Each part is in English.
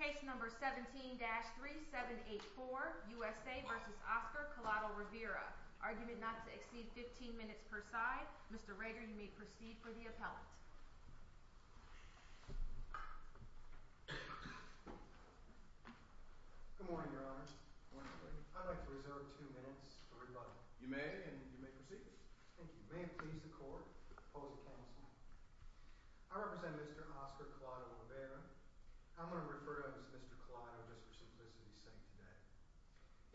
Case number 17-3784, U.S.A. v. Oscar Collado-Rivera Argument not to exceed 15 minutes per side. Mr. Rager, you may proceed for the appellant. Good morning, Your Honor. I'd like to reserve two minutes for rebuttal. You may, and you may proceed. Thank you. May it please the Court, the opposing counsel. I represent Mr. Oscar Collado-Rivera. I'm going to refer to him as Mr. Collado just for simplicity's sake today.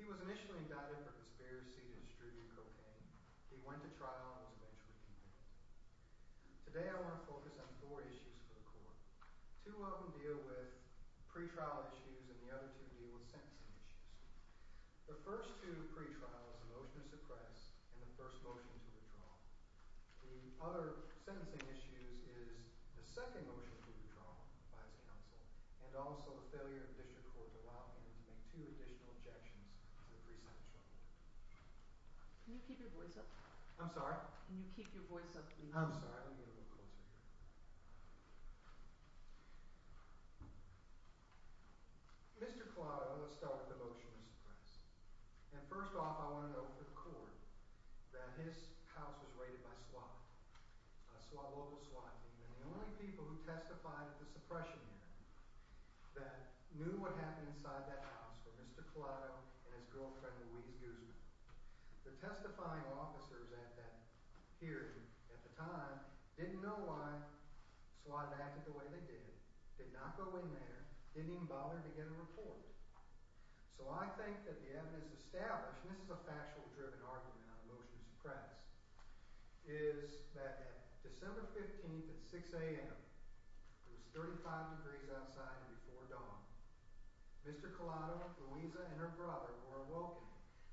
He was initially indicted for conspiracy to distribute cocaine. He went to trial and was eventually convicted. Today I want to focus on four issues for the Court. Two of them deal with pre-trial issues, and the other two deal with sentencing issues. The first two pre-trials, the motion to suppress and the first motion to withdraw. The other sentencing issues is the second motion to withdraw by his counsel, and also the failure of the District Court to allow him to make two additional objections to the pre-sentence trial. Can you keep your voice up? I'm sorry? Can you keep your voice up, please? I'm sorry. Let me get a little closer here. Mr. Collado, let's start with the motion to suppress. First off, I want to note for the Court that his house was raided by SWAT, a local SWAT team, and the only people who testified at the suppression hearing that knew what happened inside that house were Mr. Collado and his girlfriend, Louise Guzman. The testifying officers here at the time didn't know why SWAT had acted the way they did, did not go in there, didn't even bother to get a report. So I think that the evidence established, and this is a factual-driven argument on the motion to suppress, is that December 15th at 6 a.m., it was 35 degrees outside before dawn, Mr. Collado, Louisa, and her brother were awoken,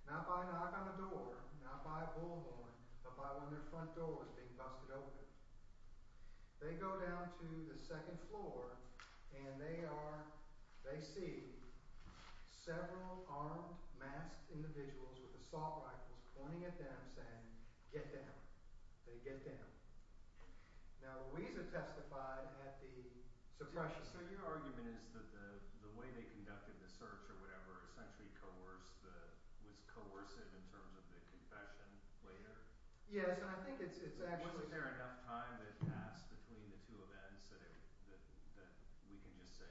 not by a knock on the door, not by a bullhorn, but by when their front door was being busted open. They go down to the second floor, and they see several armed, masked individuals with assault rifles pointing at them, saying, get down. They get down. Now, Louisa testified at the suppression hearing. So your argument is that the way they conducted the search or whatever essentially was coercive in terms of the confession later? Yes, and I think it's actually fair. Was there enough time that passed between the two events that we can just say,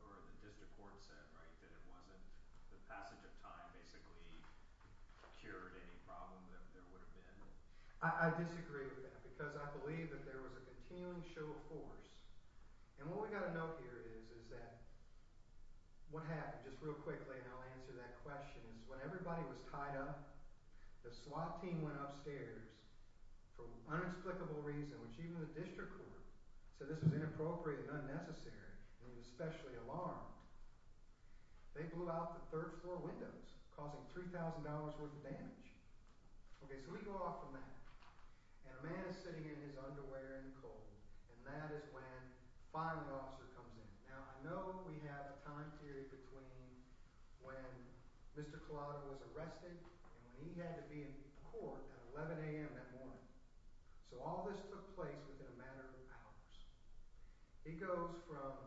or the district court said, right, that it wasn't the passage of time basically cured any problem that there would have been? I disagree with that because I believe that there was a continuing show of force. And what we've got to note here is that what happened, just real quickly, and I'll answer that question, is when everybody was tied up, the SWAT team went upstairs for unexplicable reason, which even the district court said this was inappropriate and unnecessary, and it was especially alarmed. They blew out the third floor windows, causing $3,000 worth of damage. Okay, so we go off from that, and a man is sitting in his underwear in the cold, and that is when the filing officer comes in. Now, I know we have a time period between when Mr. Collado was arrested and when he had to be in court at 11 a.m. that morning. So all this took place within a matter of hours. He goes from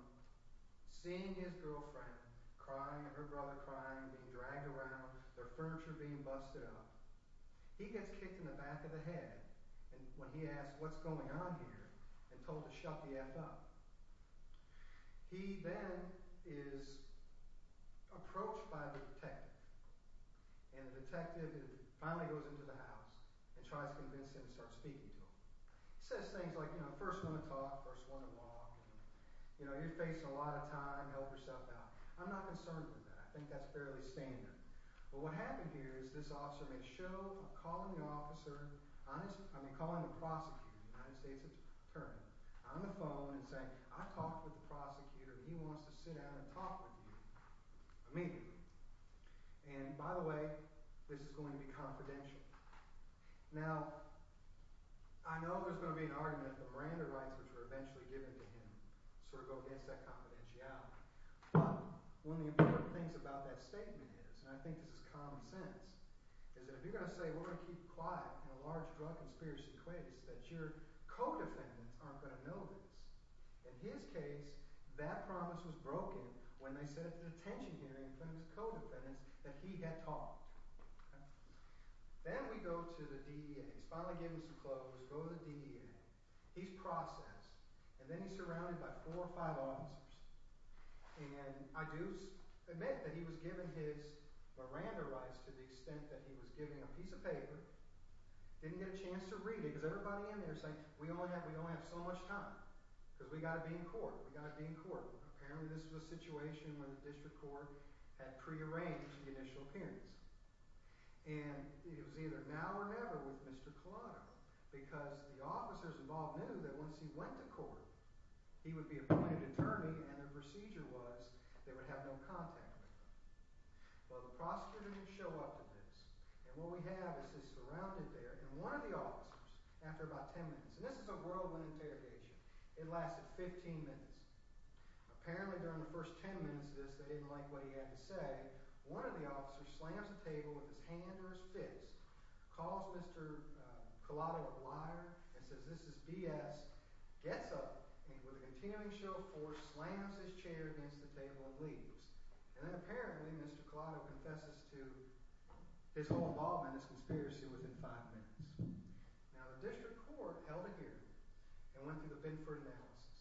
seeing his girlfriend crying and her brother crying, being dragged around, their furniture being busted up. He gets kicked in the back of the head when he asks what's going on here and told to shut the F up. He then is approached by the detective, and the detective finally goes into the house and tries to convince him to start speaking to him. He says things like, you know, first one to talk, first one to walk, and, you know, you're facing a lot of time, help yourself out. I'm not concerned with that. I think that's fairly standard. But what happened here is this officer made a show of calling the prosecutor, the United States attorney, on the phone and saying, I talked with the prosecutor and he wants to sit down and talk with you immediately. And, by the way, this is going to be confidential. Now, I know there's going to be an argument that the Miranda rights, which were eventually given to him, sort of go against that confidentiality. But one of the important things about that statement is, and I think this is common sense, is that if you're going to say we're going to keep quiet in a large drug conspiracy case, that your co-defendants aren't going to know this. In his case, that promise was broken when they said at the detention hearing that it was the co-defendants that he had talked to. Then we go to the DEA. He's finally given some clothes. We go to the DEA. He's processed. And then he's surrounded by four or five officers. And I do admit that he was given his Miranda rights to the extent that he was given a piece of paper, didn't get a chance to read it, because everybody in there is saying we only have so much time because we've got to be in court. We've got to be in court. Apparently this was a situation where the district court had prearranged the initial appearance. And it was either now or never with Mr. Collado because the officers involved knew that once he went to court, he would be appointed attorney and the procedure was they would have no contact with him. Well, the prosecutor didn't show up to this. And what we have is he's surrounded there, and one of the officers, after about 10 minutes, and this is a whirlwind interrogation. It lasted 15 minutes. Apparently during the first 10 minutes of this, they didn't like what he had to say. One of the officers slams a table with his hand or his fist, calls Mr. Collado a liar, and says this is BS, gets up, and with a continuing show of force, slams his chair against the table and leaves. And then apparently Mr. Collado confesses to his whole involvement in this conspiracy within 5 minutes. Now the district court held a hearing and went through the Binford analysis.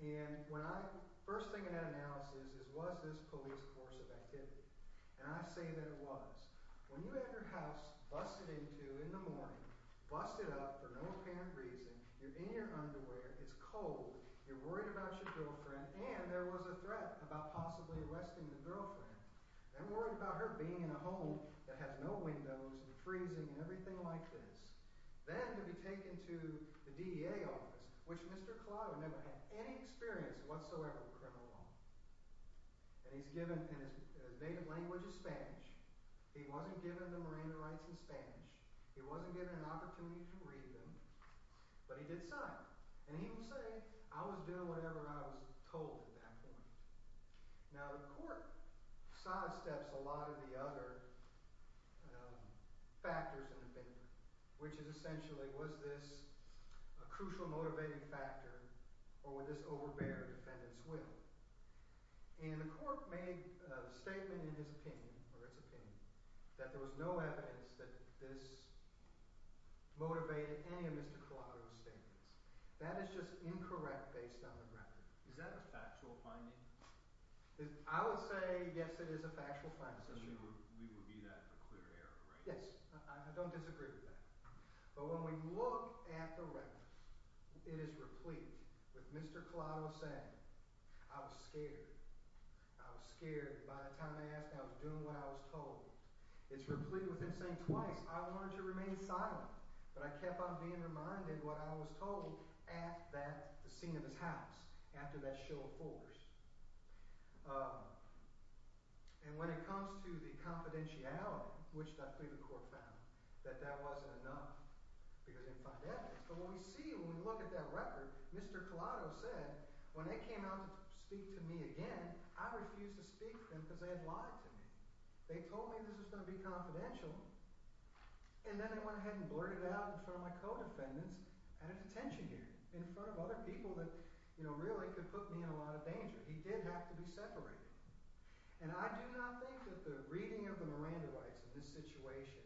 And the first thing in that analysis was this police force of activity. And I say that it was. When you had your house busted into in the morning, busted up for no apparent reason, you're in your underwear, it's cold, you're worried about your girlfriend, and there was a threat about possibly arresting the girlfriend, then worried about her being in a home that has no windows and freezing and everything like this. Then to be taken to the DEA office, which Mr. Collado never had any experience whatsoever with criminal law. And he's given, and his native language is Spanish. He wasn't given the Miranda rights in Spanish. He wasn't given an opportunity to read them, but he did sign them. And he would say, I was doing whatever I was told at that point. Now the court sidesteps a lot of the other factors in the Binford, which is essentially, was this a crucial motivating factor or would this overbear a defendant's will? And the court made a statement in his opinion, or its opinion, that there was no evidence that this motivated any of Mr. Collado's statements. That is just incorrect based on the record. Is that a factual finding? I would say, yes, it is a factual finding. So we would be that for clear error, right? Yes. I don't disagree with that. But when we look at the record, it is replete with Mr. Collado saying, I was scared. I was scared. By the time I asked, I was doing what I was told. It's replete with him saying twice, I wanted to remain silent, but I kept on being reminded what I was told at the scene of his house, after that show of force. And when it comes to the confidentiality, which the court found, that that wasn't enough because they didn't find evidence. But what we see when we look at that record, Mr. Collado said, when they came out to speak to me again, I refused to speak to them because they had lied to me. They told me this was going to be confidential. And then they went ahead and blurted it out in front of my co-defendants at a detention unit, in front of other people that, you know, really could put me in a lot of danger. He did have to be separated. And I do not think that the reading of the Miranda rights in this situation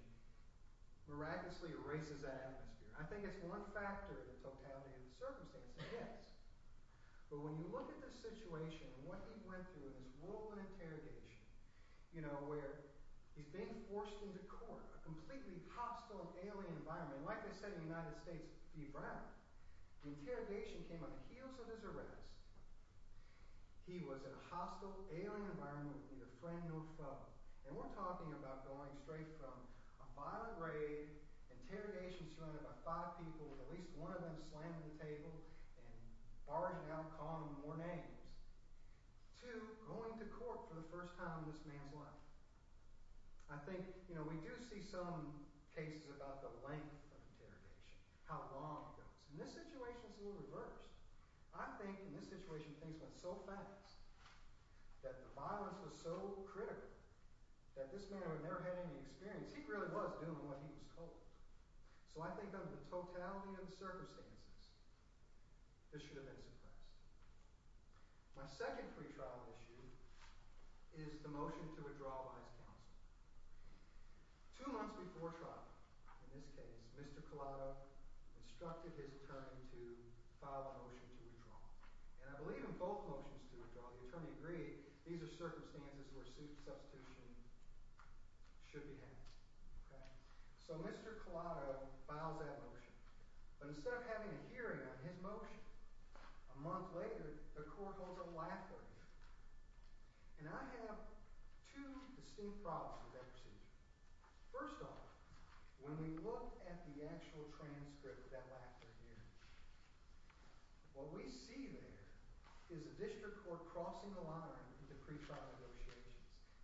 miraculously erases that atmosphere. I think it's one factor of the totality of the circumstances, yes. But when you look at this situation and what he went through in this whirlwind interrogation, you know, where he's being forced into court, a completely hostile alien environment. And like I said in the United States v. Brown, the interrogation came on the heels of his arrest. He was in a hostile alien environment with neither friend nor foe. And we're talking about going straight from a violent raid, interrogation surrounded by five people, with at least one of them slamming the table and barging out and calling him more names, to going to court for the first time in this man's life. I think, you know, we do see some cases about the length of interrogation, how long it goes. And this situation is a little reversed. I think in this situation things went so fast that the violence was so critical that this man would have never had any experience. He really was doing what he was told. So I think under the totality of the circumstances, this should have been suppressed. My second free trial issue is the motion to withdraw vice counsel. Two months before trial, in this case, Mr. Collado instructed his attorney to file a motion to withdraw. And I believe in both motions to withdraw, the attorney agreed these are circumstances where substitution should be had. So Mr. Collado files that motion. But instead of having a hearing on his motion, a month later, the court holds a laughter hearing. And I have two distinct problems with that procedure. First off, when we look at the actual transcript of that laughter hearing, what we see there is the district court crossing the line into pre-trial negotiations.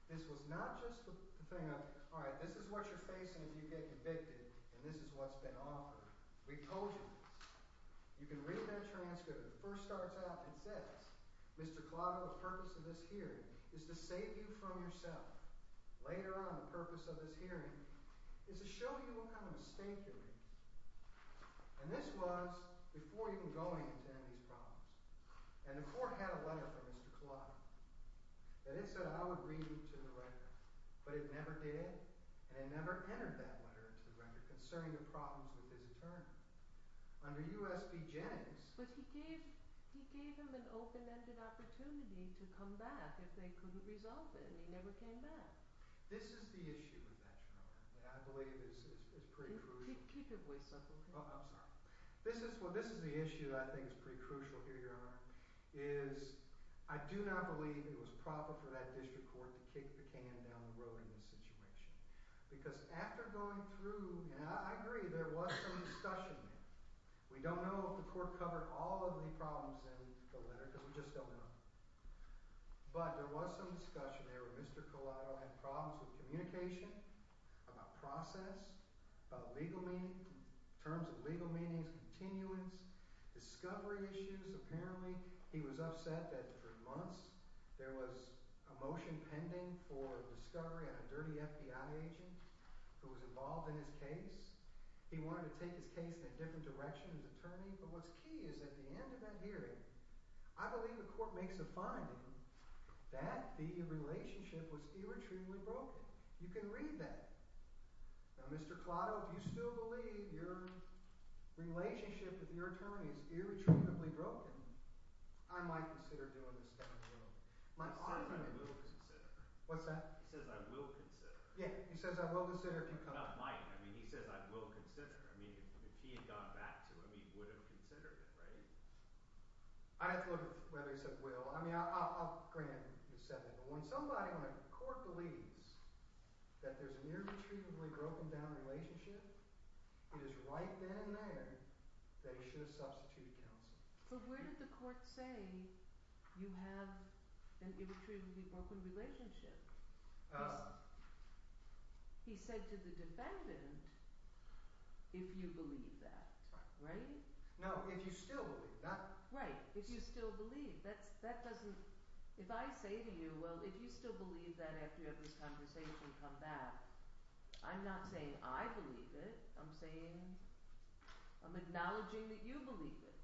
This was not just the thing of, all right, this is what you're facing if you get convicted, and this is what's been offered. We told you this. You can read that transcript. It first starts out and says, Mr. Collado, the purpose of this hearing is to save you from yourself. Later on, the purpose of this hearing is to show you what kind of mistake you're making. And this was before you can go in to end these problems. And the court had a letter from Mr. Collado. And it said I would read it to the record. But it never did, and it never entered that letter to the record concerning the problems with his attorney. Under U.S.B. Jennings. But he gave him an open-ended opportunity to come back if they couldn't resolve it, and he never came back. This is the issue with that, Your Honor, that I believe is pretty crucial. Keep your voice up, okay? Oh, I'm sorry. This is the issue that I think is pretty crucial here, Your Honor, is I do not believe it was proper for that district court to kick the can down the road in this situation. Because after going through, and I agree, there was some discussion there. We don't know if the court covered all of the problems in the letter, because we just don't know. But there was some discussion there where Mr. Collado had problems with communication, about process, about legal meaning, terms of legal meanings, continuance, discovery issues. Apparently, he was upset that for months there was a motion pending for discovery on a dirty FBI agent who was involved in his case. He wanted to take his case in a different direction, his attorney. But what's key is at the end of that hearing, I believe the court makes a finding that the relationship was irretrievably broken. You can read that. Now, Mr. Collado, if you still believe your relationship with your attorney is irretrievably broken, I might consider doing this stuff. He says, I will consider. What's that? He says, I will consider. Yeah, he says, I will consider. Not might. I mean, he says, I will consider. I mean, if he had gone back to him, he would have considered it, right? I'd have to look at whether he said will. I mean, I'll grant he said that. But when somebody on a court believes that there's an irretrievably broken down relationship, it is right then and there that he should have substituted counsel. But where did the court say you have an irretrievably broken relationship? He said to the defendant, if you believe that, right? No, if you still believe that. Right, if you still believe. That doesn't, if I say to you, well, if you still believe that after you have this conversation come back, I'm not saying I believe it. I'm saying, I'm acknowledging that you believe it.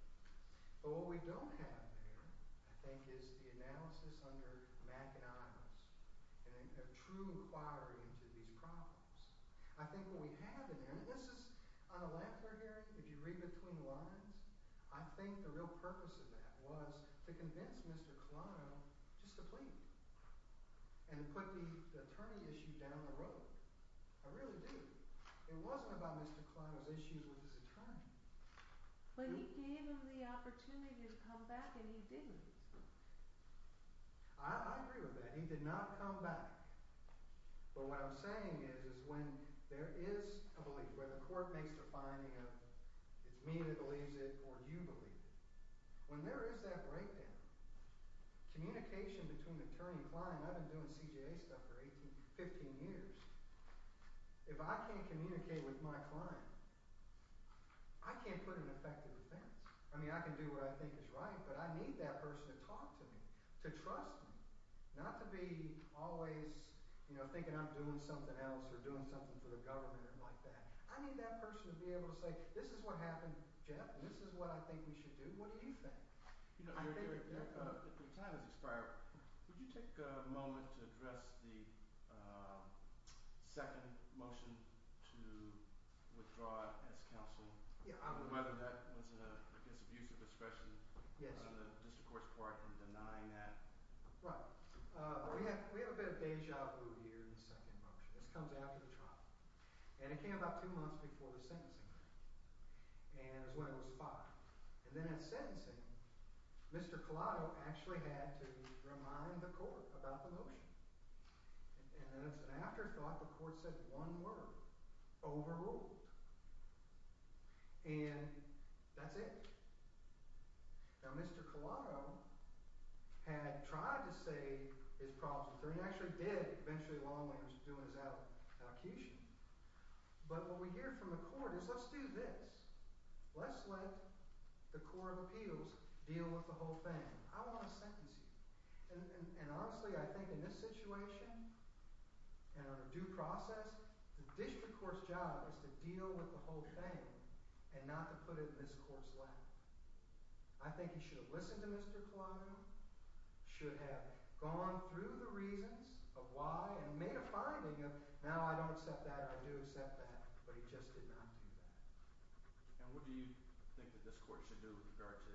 But what we don't have there, I think, is the analysis under Mac and Ivers, and a true inquiry into these problems. I think what we have in there, and this is on a lackluster hearing, if you read between the lines, I think the real purpose of that was to convince Mr. Colano just to plead, and put the attorney issue down the road. I really do. It wasn't about Mr. Colano's issues with his attorney. But he gave him the opportunity to come back and he didn't. I agree with that. He did not come back. But what I'm saying is when there is a belief, where the court makes the finding of it's me that believes it or you believe it, when there is that breakdown, communication between attorney and client, I've been doing CJA stuff for 15 years. If I can't communicate with my client, I can't put an effective defense. I mean, I can do what I think is right, but I need that person to talk to me, to trust me, not to be always thinking I'm doing something else or doing something for the government or like that. I need that person to be able to say, this is what happened, Jeff, and this is what I think we should do. What do you think? Your time has expired. Would you take a moment to address the second motion to withdraw as counsel? Whether that was an abuse of discretion on the district court's part in denying that? Right. We have a bit of deja vu here in the second motion. This comes after the trial. And it came about two months before the sentencing. And it was when it was filed. And then at sentencing, Mr. Collado actually had to remind the court about the motion. And then as an afterthought, the court said one word, overruled. And that's it. Now, Mr. Collado had tried to say his problems, and he actually did, eventually, along the way. He was doing his allocution. But what we hear from the court is, let's do this. Let's let the court of appeals deal with the whole thing. I want to sentence you. And honestly, I think in this situation, and under due process, the district court's job is to deal with the whole thing and not to put it in this court's lap. I think he should have listened to Mr. Collado, should have gone through the reasons of why, and made a finding of, now I don't accept that, I do accept that, but he just did not do that. And what do you think that this court should do with regard to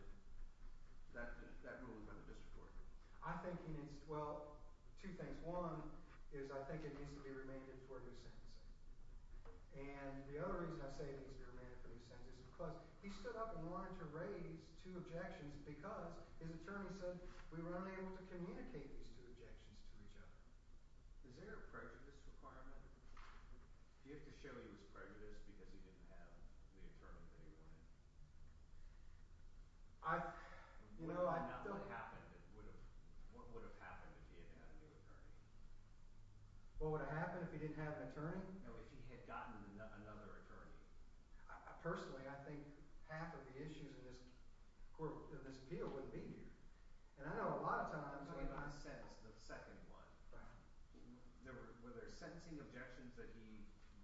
that ruling by the district court? I think he needs, well, two things. One is I think it needs to be remanded for a new sentencing. And the other reason I say it needs to be remanded for a new sentencing is because he stood up and wanted to raise two objections because his attorney said, we were only able to communicate these two objections to each other. Is there a prejudice requirement? Do you have to show he was prejudiced because he didn't have the attorney that he wanted? If nothing happened, what would have happened if he didn't have a new attorney? What would have happened if he didn't have an attorney? If he had gotten another attorney. Personally, I think half of the issues in this appeal would be here. And I know a lot of times when I sentence the second one, were there sentencing objections that he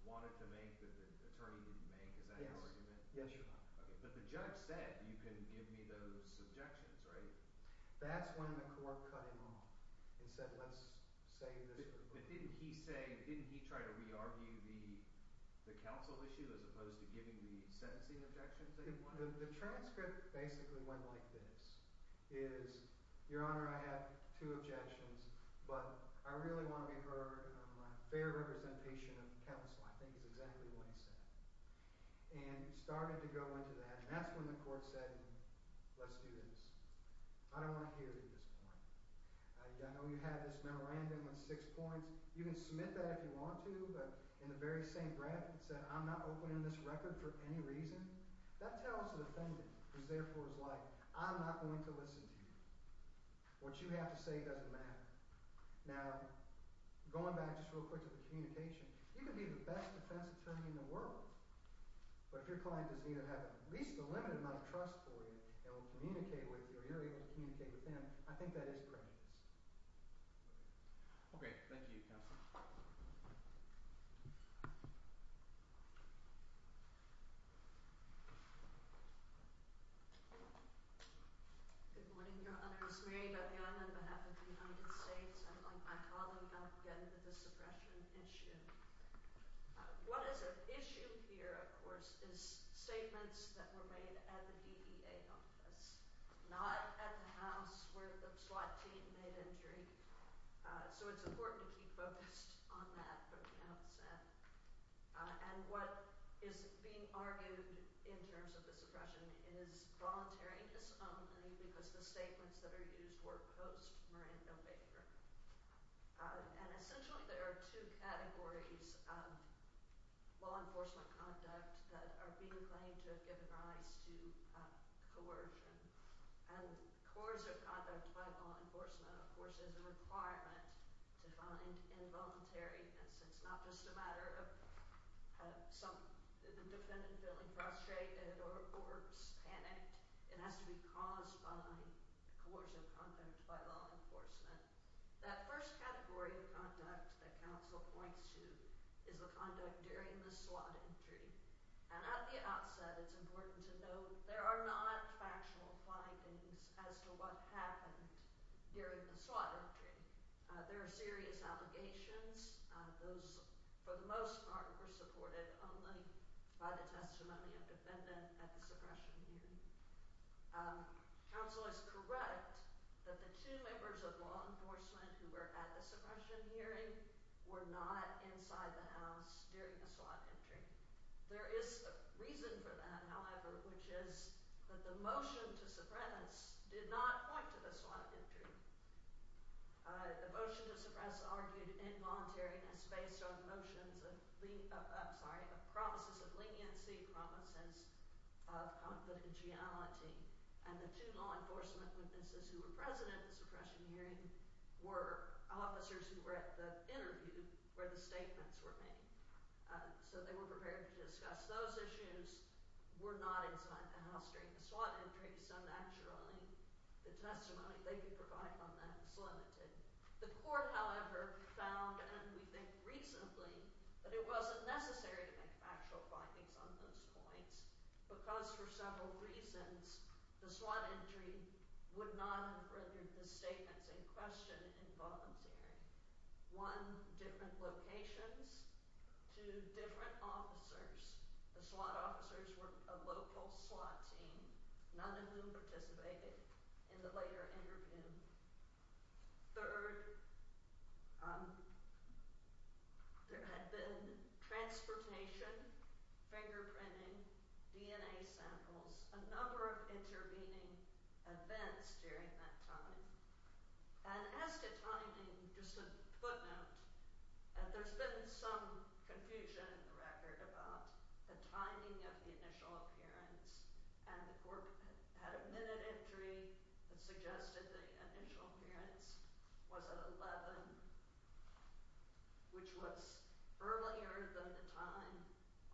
wanted to make that the attorney didn't make? Is that an argument? Yes, Your Honor. But the judge said you can give me those objections, right? That's when the court cut him off and said, let's save this for later. But didn't he try to re-argue the counsel issue as opposed to giving the sentencing objections that he wanted? The transcript basically went like this. It is, Your Honor, I have two objections, but I really want to be heard on a fair representation of counsel. I think it's exactly what he said. And he started to go into that, and that's when the court said, let's do this. I don't want to hear it at this point. I know you had this memorandum with six points. You can submit that if you want to, but in the very same breath, it said, I'm not opening this record for any reason. That tells the defendant, who therefore is like, I'm not going to listen to you. What you have to say doesn't matter. Now, going back just real quick to the communication, you can be the best defense attorney in the world, but if your client doesn't even have at least a limited amount of trust for you and will communicate with you, or you're able to communicate with them, I think that is prejudice. Okay. Thank you, counsel. Good morning, Your Honor. This is Mary Beth Young on behalf of the United States. I'm with my colleague, again, with the suppression issue. What is at issue here, of course, is statements that were made at the DEA office, not at the house where the SWAT team made entry. So it's important to keep focused on that. And what is being argued in terms of the suppression is voluntary disowning because the statements that are used were post-Miranda Baker. And essentially there are two categories of law enforcement conduct that are being claimed to have given rise to coercion. And coercive conduct by law enforcement, of course, is a requirement to find involuntariness. It's not just a matter of some defendant feeling frustrated or panicked. It has to be caused by coercive conduct by law enforcement. That first category of conduct that counsel points to is the conduct during the SWAT entry. And at the outset, it's important to note there are non-factual findings as to what happened during the SWAT entry. There are serious allegations. Those, for the most part, were supported only by the testimony of the defendant at the suppression hearing. Counsel is correct that the two members of law enforcement who were at the suppression hearing were not inside the house during the SWAT entry. There is a reason for that, however, which is that the motion to suppress did not point to the SWAT entry. The motion to suppress argued involuntariness based on the promises of leniency, promises of confidentiality. And the two law enforcement witnesses who were present at the suppression hearing were officers who were at the interview where the statements were made. So they were prepared to discuss those issues. They were not inside the house during the SWAT entry, so naturally the testimony they could provide on that was limited. The court, however, found, and we think recently, that it wasn't necessary to make factual findings on those points because, for several reasons, the SWAT entry would not have rendered the statements in question involuntary. One, different locations. Two, different officers. The SWAT officers were a local SWAT team. None of them participated in the later interview. Third, there had been transportation, fingerprinting, DNA samples, a number of intervening events during that time. And as to timing, just a footnote, that there's been some confusion in the record about the timing of the initial appearance, and the court had a minute entry that suggested the initial appearance was at 11, which was earlier than the time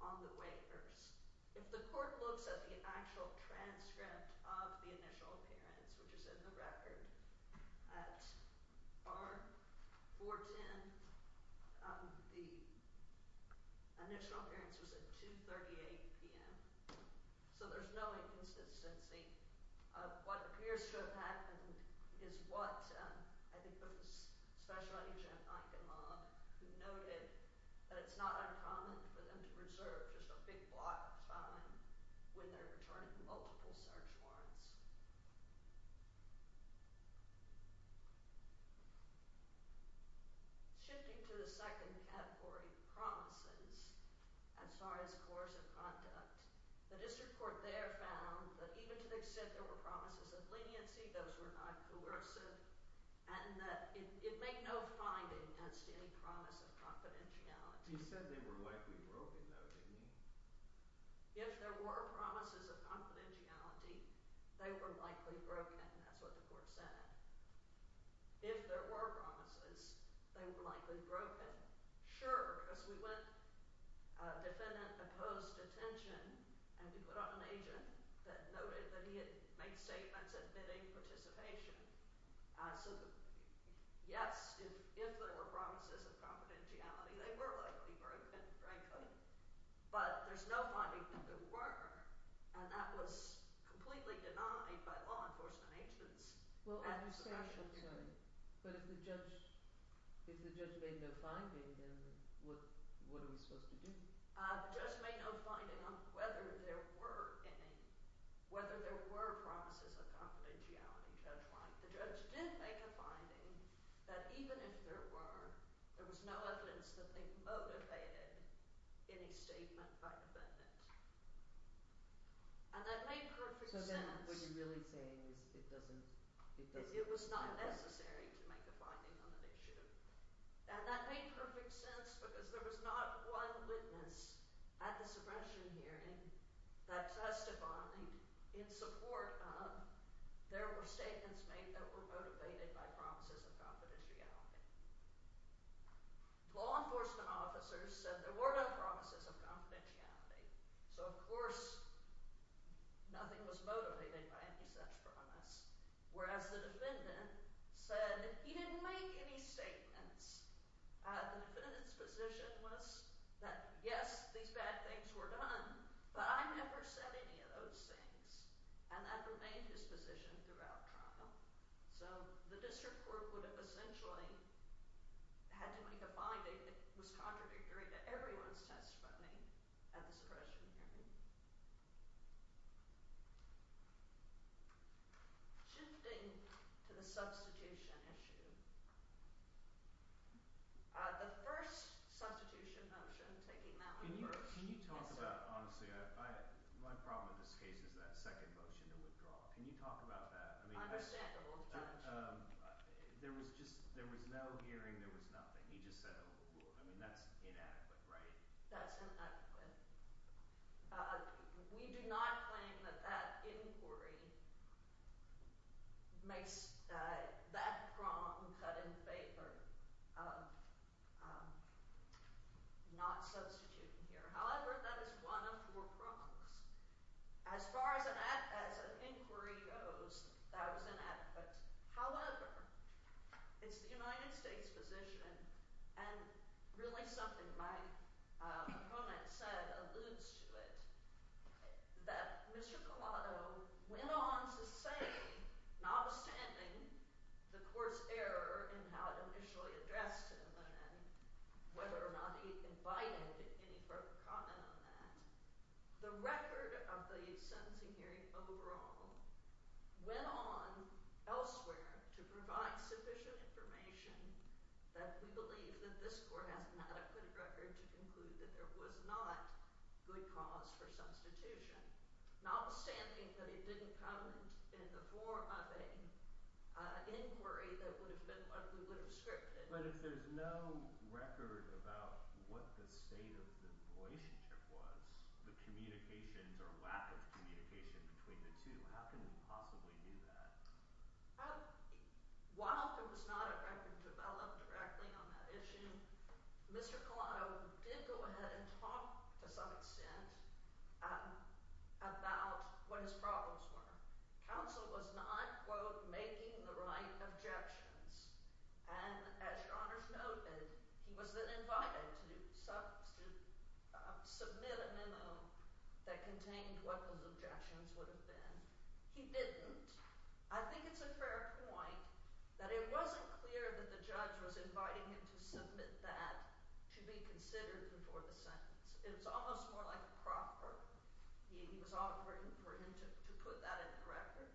on the waivers. If the court looks at the actual transcript of the initial appearance, which is in the record, at 410, the initial appearance was at 2.38 p.m., so there's no inconsistency. What appears to have happened is what, I think, was Special Agent Eichenloch, who noted that it's not uncommon for them to reserve just a big block of time when they're returning multiple search warrants. Shifting to the second category, promises, as far as coercive conduct, the district court there found that even to the extent there were promises of leniency, those were not coercive, and that it made no finding as to any promise of confidentiality. If there were promises of confidentiality, they were likely broken. That's what the court said. If there were promises, they were likely broken. Sure, because we went defendant-opposed attention, and we put on an agent that noted that he had made statements admitting participation. So yes, if there were promises of confidentiality, they were likely broken, frankly, but there's no finding that there were, and that was completely denied by law enforcement agents. Well, I understand, but if the judge made no finding, then what are we supposed to do? The judge made no finding on whether there were promises of confidentiality. The judge did make a finding that even if there were, there was no evidence that they motivated any statement by the defendant, and that made perfect sense. So then what you're really saying is it doesn't make sense. It was not necessary to make a finding on an issue, and that made perfect sense because there was not one witness at the suppression hearing that testified in support of there were statements made that were motivated by promises of confidentiality. Law enforcement officers said there were no promises of confidentiality, so of course nothing was motivated by any such promise, whereas the defendant said he didn't make any statements. The defendant's position was that yes, these bad things were done, but I never said any of those things, and that remained his position throughout trial. So the district court would have essentially had to make a finding that was contradictory to everyone's testimony at the suppression hearing. Shifting to the substitution issue. The first substitution motion, taking that one first. Can you talk about, honestly, my problem in this case is that second motion to withdraw. Can you talk about that? Understandable. There was no hearing. There was nothing. You just said that's inadequate, right? That's inadequate. We do not claim that that inquiry makes that prong cut in favor of not substituting here. However, that is one of four prongs. As far as an inquiry goes, that was inadequate. However, it's the United States' position, and really something my opponent said alludes to it, that Mr. Collado went on to say, notwithstanding the court's error in how it initially addressed him and whether or not he invited any further comment on that, the record of the sentencing hearing overall went on elsewhere to provide sufficient information that we believe that this court has an adequate record to conclude that there was not good cause for substitution. Notwithstanding that it didn't come in the form of an inquiry that would have been what we would have scripted. But if there's no record about what the state of the relationship was, the communications or lack of communication between the two, how can we possibly do that? While there was not a record developed directly on that issue, Mr. Collado did go ahead and talk to some extent about what his problems were. Counsel was not, quote, making the right objections. And as Your Honor's noted, he was then invited to submit a memo that contained what those objections would have been. He didn't. I think it's a fair point that it wasn't clear that the judge was inviting him to submit that to be considered before the sentence. It was almost more like a proffer. He was offering for him to put that in the record.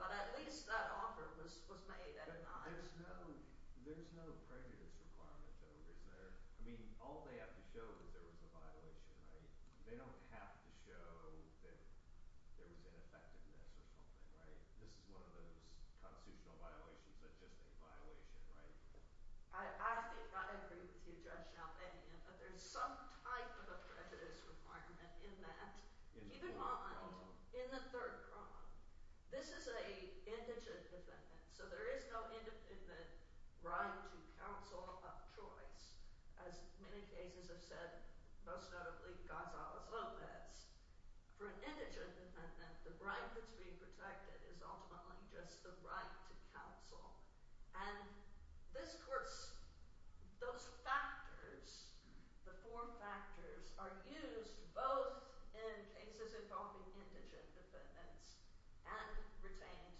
But at least that offer was made at a time. There's no prejudice requirement, though, is there? I mean, all they have to show is there was a violation, right? They don't have to show that there was ineffectiveness or something, right? This is one of those constitutional violations that's just a violation, right? I think I agree with you, Judge Chalbanian, that there's some type of a prejudice requirement in that. Keep in mind, in the third crime, this is an indigent defendant, so there is no independent right to counsel of choice. As many cases have said, most notably Gonzalez-Lopez, for an indigent defendant, the right that's being protected is ultimately just the right to counsel. And this courts those factors, the four factors, are used both in cases involving indigent defendants and retained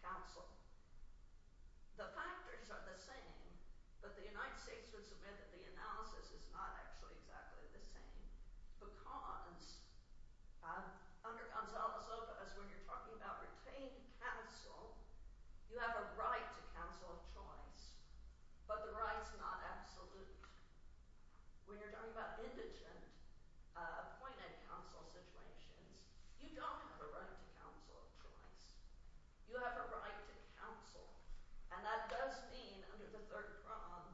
counsel. The factors are the same, but the United States would submit that the analysis is not actually exactly the same because under Gonzalez-Lopez, when you're talking about retained counsel, you have a right to counsel of choice, but the right's not absolute. When you're talking about indigent appointed counsel situations, you don't have a right to counsel of choice. You have a right to counsel, and that does mean, under the third crime,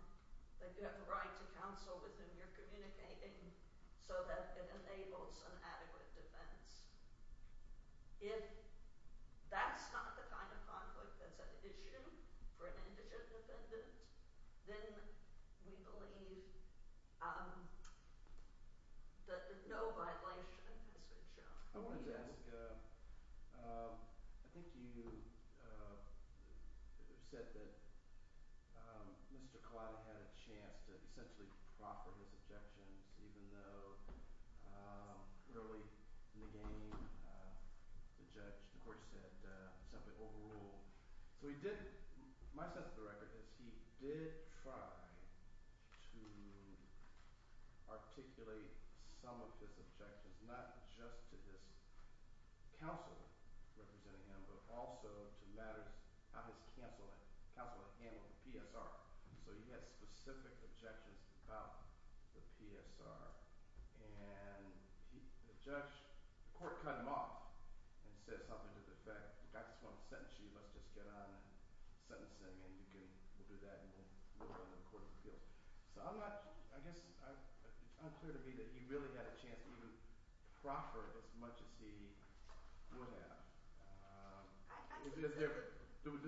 that you have a right to counsel with whom you're communicating so that it enables an adequate defence. If that's not the kind of conflict that's an issue for an indigent defendant, then we believe that no violation has been shown. I wanted to ask, I think you said that Mr. Collado had a chance to essentially proffer his objections even though early in the game, the judge, the court said, simply overruled. My sense of the record is he did try to articulate some of his objections, not just to his counsel representing him, but also to matters of his counsel handling the PSR. So he had specific objections about the PSR, and the judge, the court cut him off and said something to the effect, I just want to sentence you. Let's just get on and sentence him, and we'll do that, and we'll go to the court of appeals. So I guess it's unclear to me that he really had a chance to even proffer as much as he would have. What's your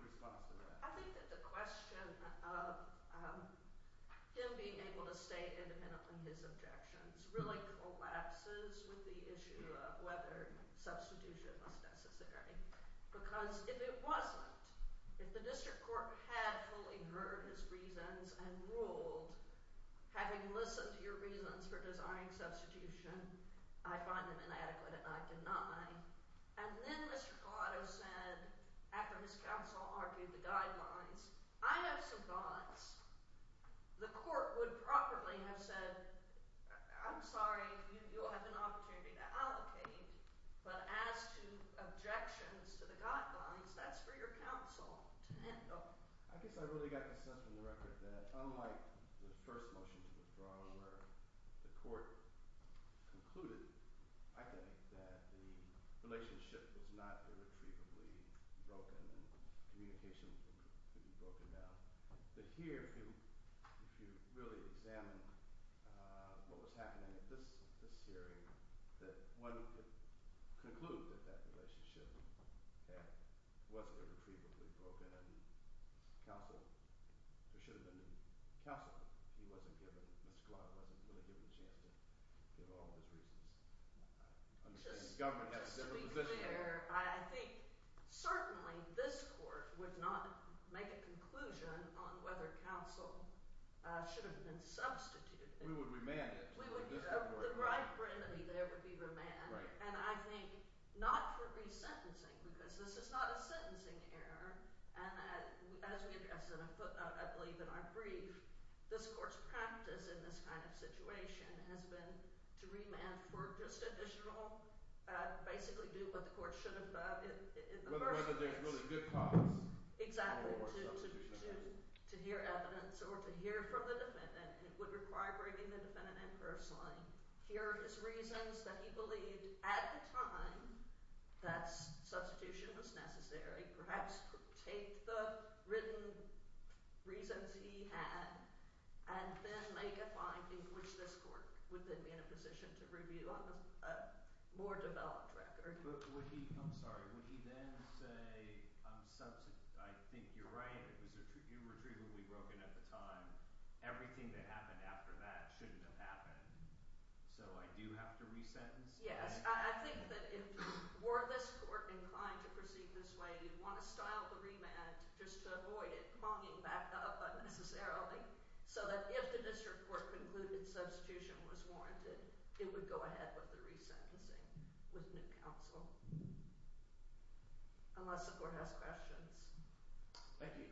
response to that? I think that the question of him being able to state independently his objections really collapses with the issue of whether substitution was necessary, because if it wasn't, if the district court had fully heard his reasons and ruled, having listened to your reasons for desiring substitution, I find them inadequate and I deny, and then Mr. Collado said, after his counsel argued the guidelines, I have some thoughts. The court would properly have said, I'm sorry, you'll have an opportunity to advocate, but as to objections to the guidelines, that's for your counsel to handle. I guess I really got the sense from the record that unlike the first motion to withdraw, where the court concluded, I think, that the relationship was not irretrievably broken and communication could be broken down, that here, if you really examine what was happening at this hearing, that one could conclude that that relationship wasn't irretrievably broken and counsel, there should have been counsel, he wasn't given, Mr. Collado wasn't really given a chance to give all of his reasons. Just to be clear, I think certainly this court would not make a conclusion on whether counsel should have been substituted. We would remand it. The right remedy there would be remand, and I think not for resentencing, because this is not a sentencing error, and as we addressed, I believe in our brief, this court's practice in this kind of situation has been to remand for just additional, basically do what the court should have done in the first place. Whether there's really good cause. Exactly, to hear evidence or to hear from the defendant would require bringing the defendant in personally. Here are his reasons that he believed, at the time that substitution was necessary, perhaps take the written reasons he had and then make a finding, which this court would then be in a position to review on a more developed record. I'm sorry, would he then say, I think you're right, you were treatably broken at the time, everything that happened after that shouldn't have happened, so I do have to resentence? Yes, I think that if, were this court inclined to proceed this way, you'd want to style the remand just to avoid it monging back up unnecessarily, so that if the district court concluded substitution was warranted, it would go ahead with the resentencing with new counsel. Unless the court has questions. Thank you.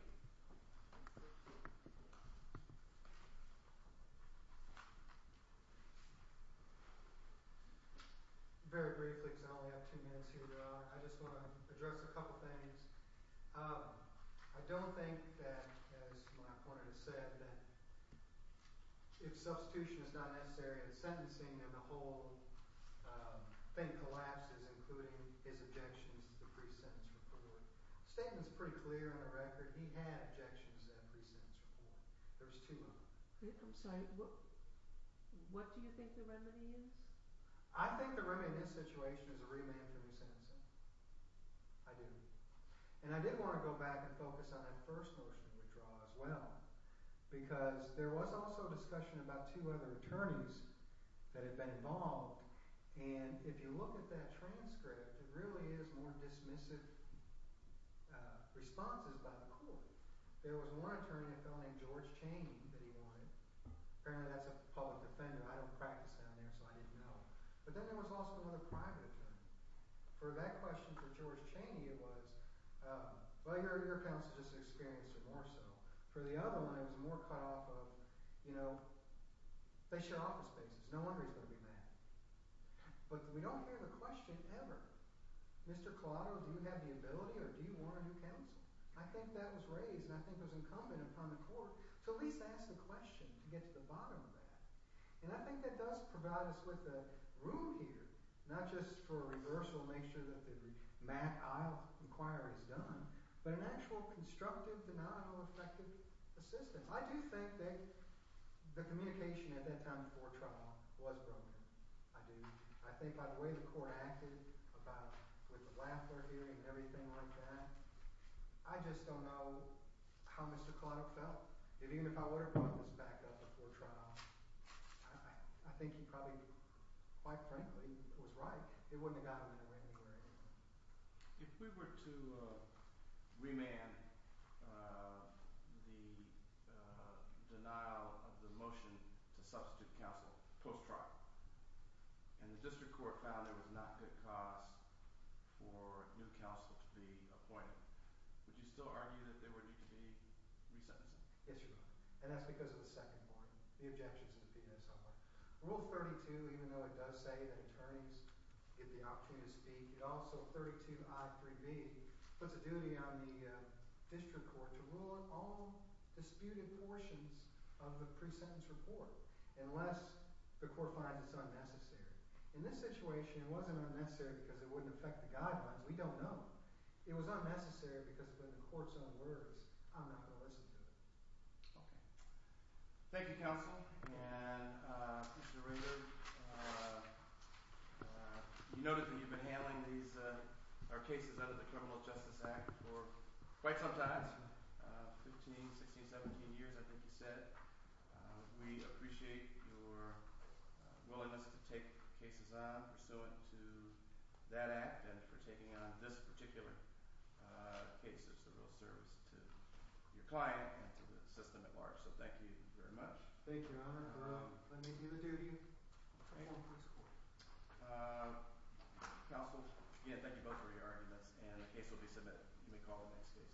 Very briefly, because I only have two minutes here, I just want to address a couple things. I don't think that, as my opponent has said, that if substitution is not necessary in the sentencing, then the whole thing collapses, including his objections to the pre-sentence report. The statement's pretty clear on the record, he had objections to that pre-sentence report. There's two of them. I'm sorry, what do you think the remedy is? I think the remedy in this situation is a remand for resentencing. I do. And I did want to go back and focus on that first notion of withdrawal as well, because there was also discussion about two other attorneys that had been involved. And if you look at that transcript, it really is more dismissive responses by the court. There was one attorney, a fellow named George Chaney, that he wanted. Apparently that's a public defender. I don't practice down there, so I didn't know. But then there was also another private attorney. For that question, for George Chaney, it was, well, your counsel just experienced it more so. For the other one, it was more cut off of, they share office spaces. No wonder he's going to be mad. But we don't hear the question ever, Mr. Collado, do you have the ability, or do you want a new counsel? I think that was raised, and I think it was incumbent upon the court to at least ask the question to get to the bottom of that. And I think that does provide us with a room here, not just for a reversal to make sure that the Mack Isle inquiry is done, but an actual constructive, denominal, effective assistance. I do think that the communication at that time before trial was broken. I do. I think by the way the court acted about, with the Lafler hearing and everything like that, I just don't know how Mr. Collado felt. Even if I would have brought this back up before trial, I think he probably, quite frankly, was right. It wouldn't have gotten him anywhere anyway. If we were to remand the denial of the motion to substitute counsel post-trial, and the district court found there was not good cause for a new counsel to be appointed, would you still argue that there would need to be resentencing? Yes, Your Honor. And that's because of the second board, the objections that have been made so far. Rule 32, even though it does say that attorneys get the opportunity to speak, it also, 32I3B, puts a duty on the district court to rule on all disputed portions of the pre-sentence report, unless the court finds it's unnecessary. In this situation, it wasn't unnecessary because it wouldn't affect the guidelines. We don't know. It was unnecessary because when the court's on words, I'm not going to listen to it. Okay. Thank you, counsel. And Mr. Rader, you noted that you've been handling these cases under the Criminal Justice Act for quite some time, 15, 16, 17 years, I think you said. We appreciate your willingness to take cases on pursuant to that act, and for taking on this particular case. It's a real service to your client and to the system at large. So thank you very much. Thank you, Your Honor. Let me give the duty. Counsel? Yeah, thank you both for your arguments, and the case will be submitted. You may call the next case.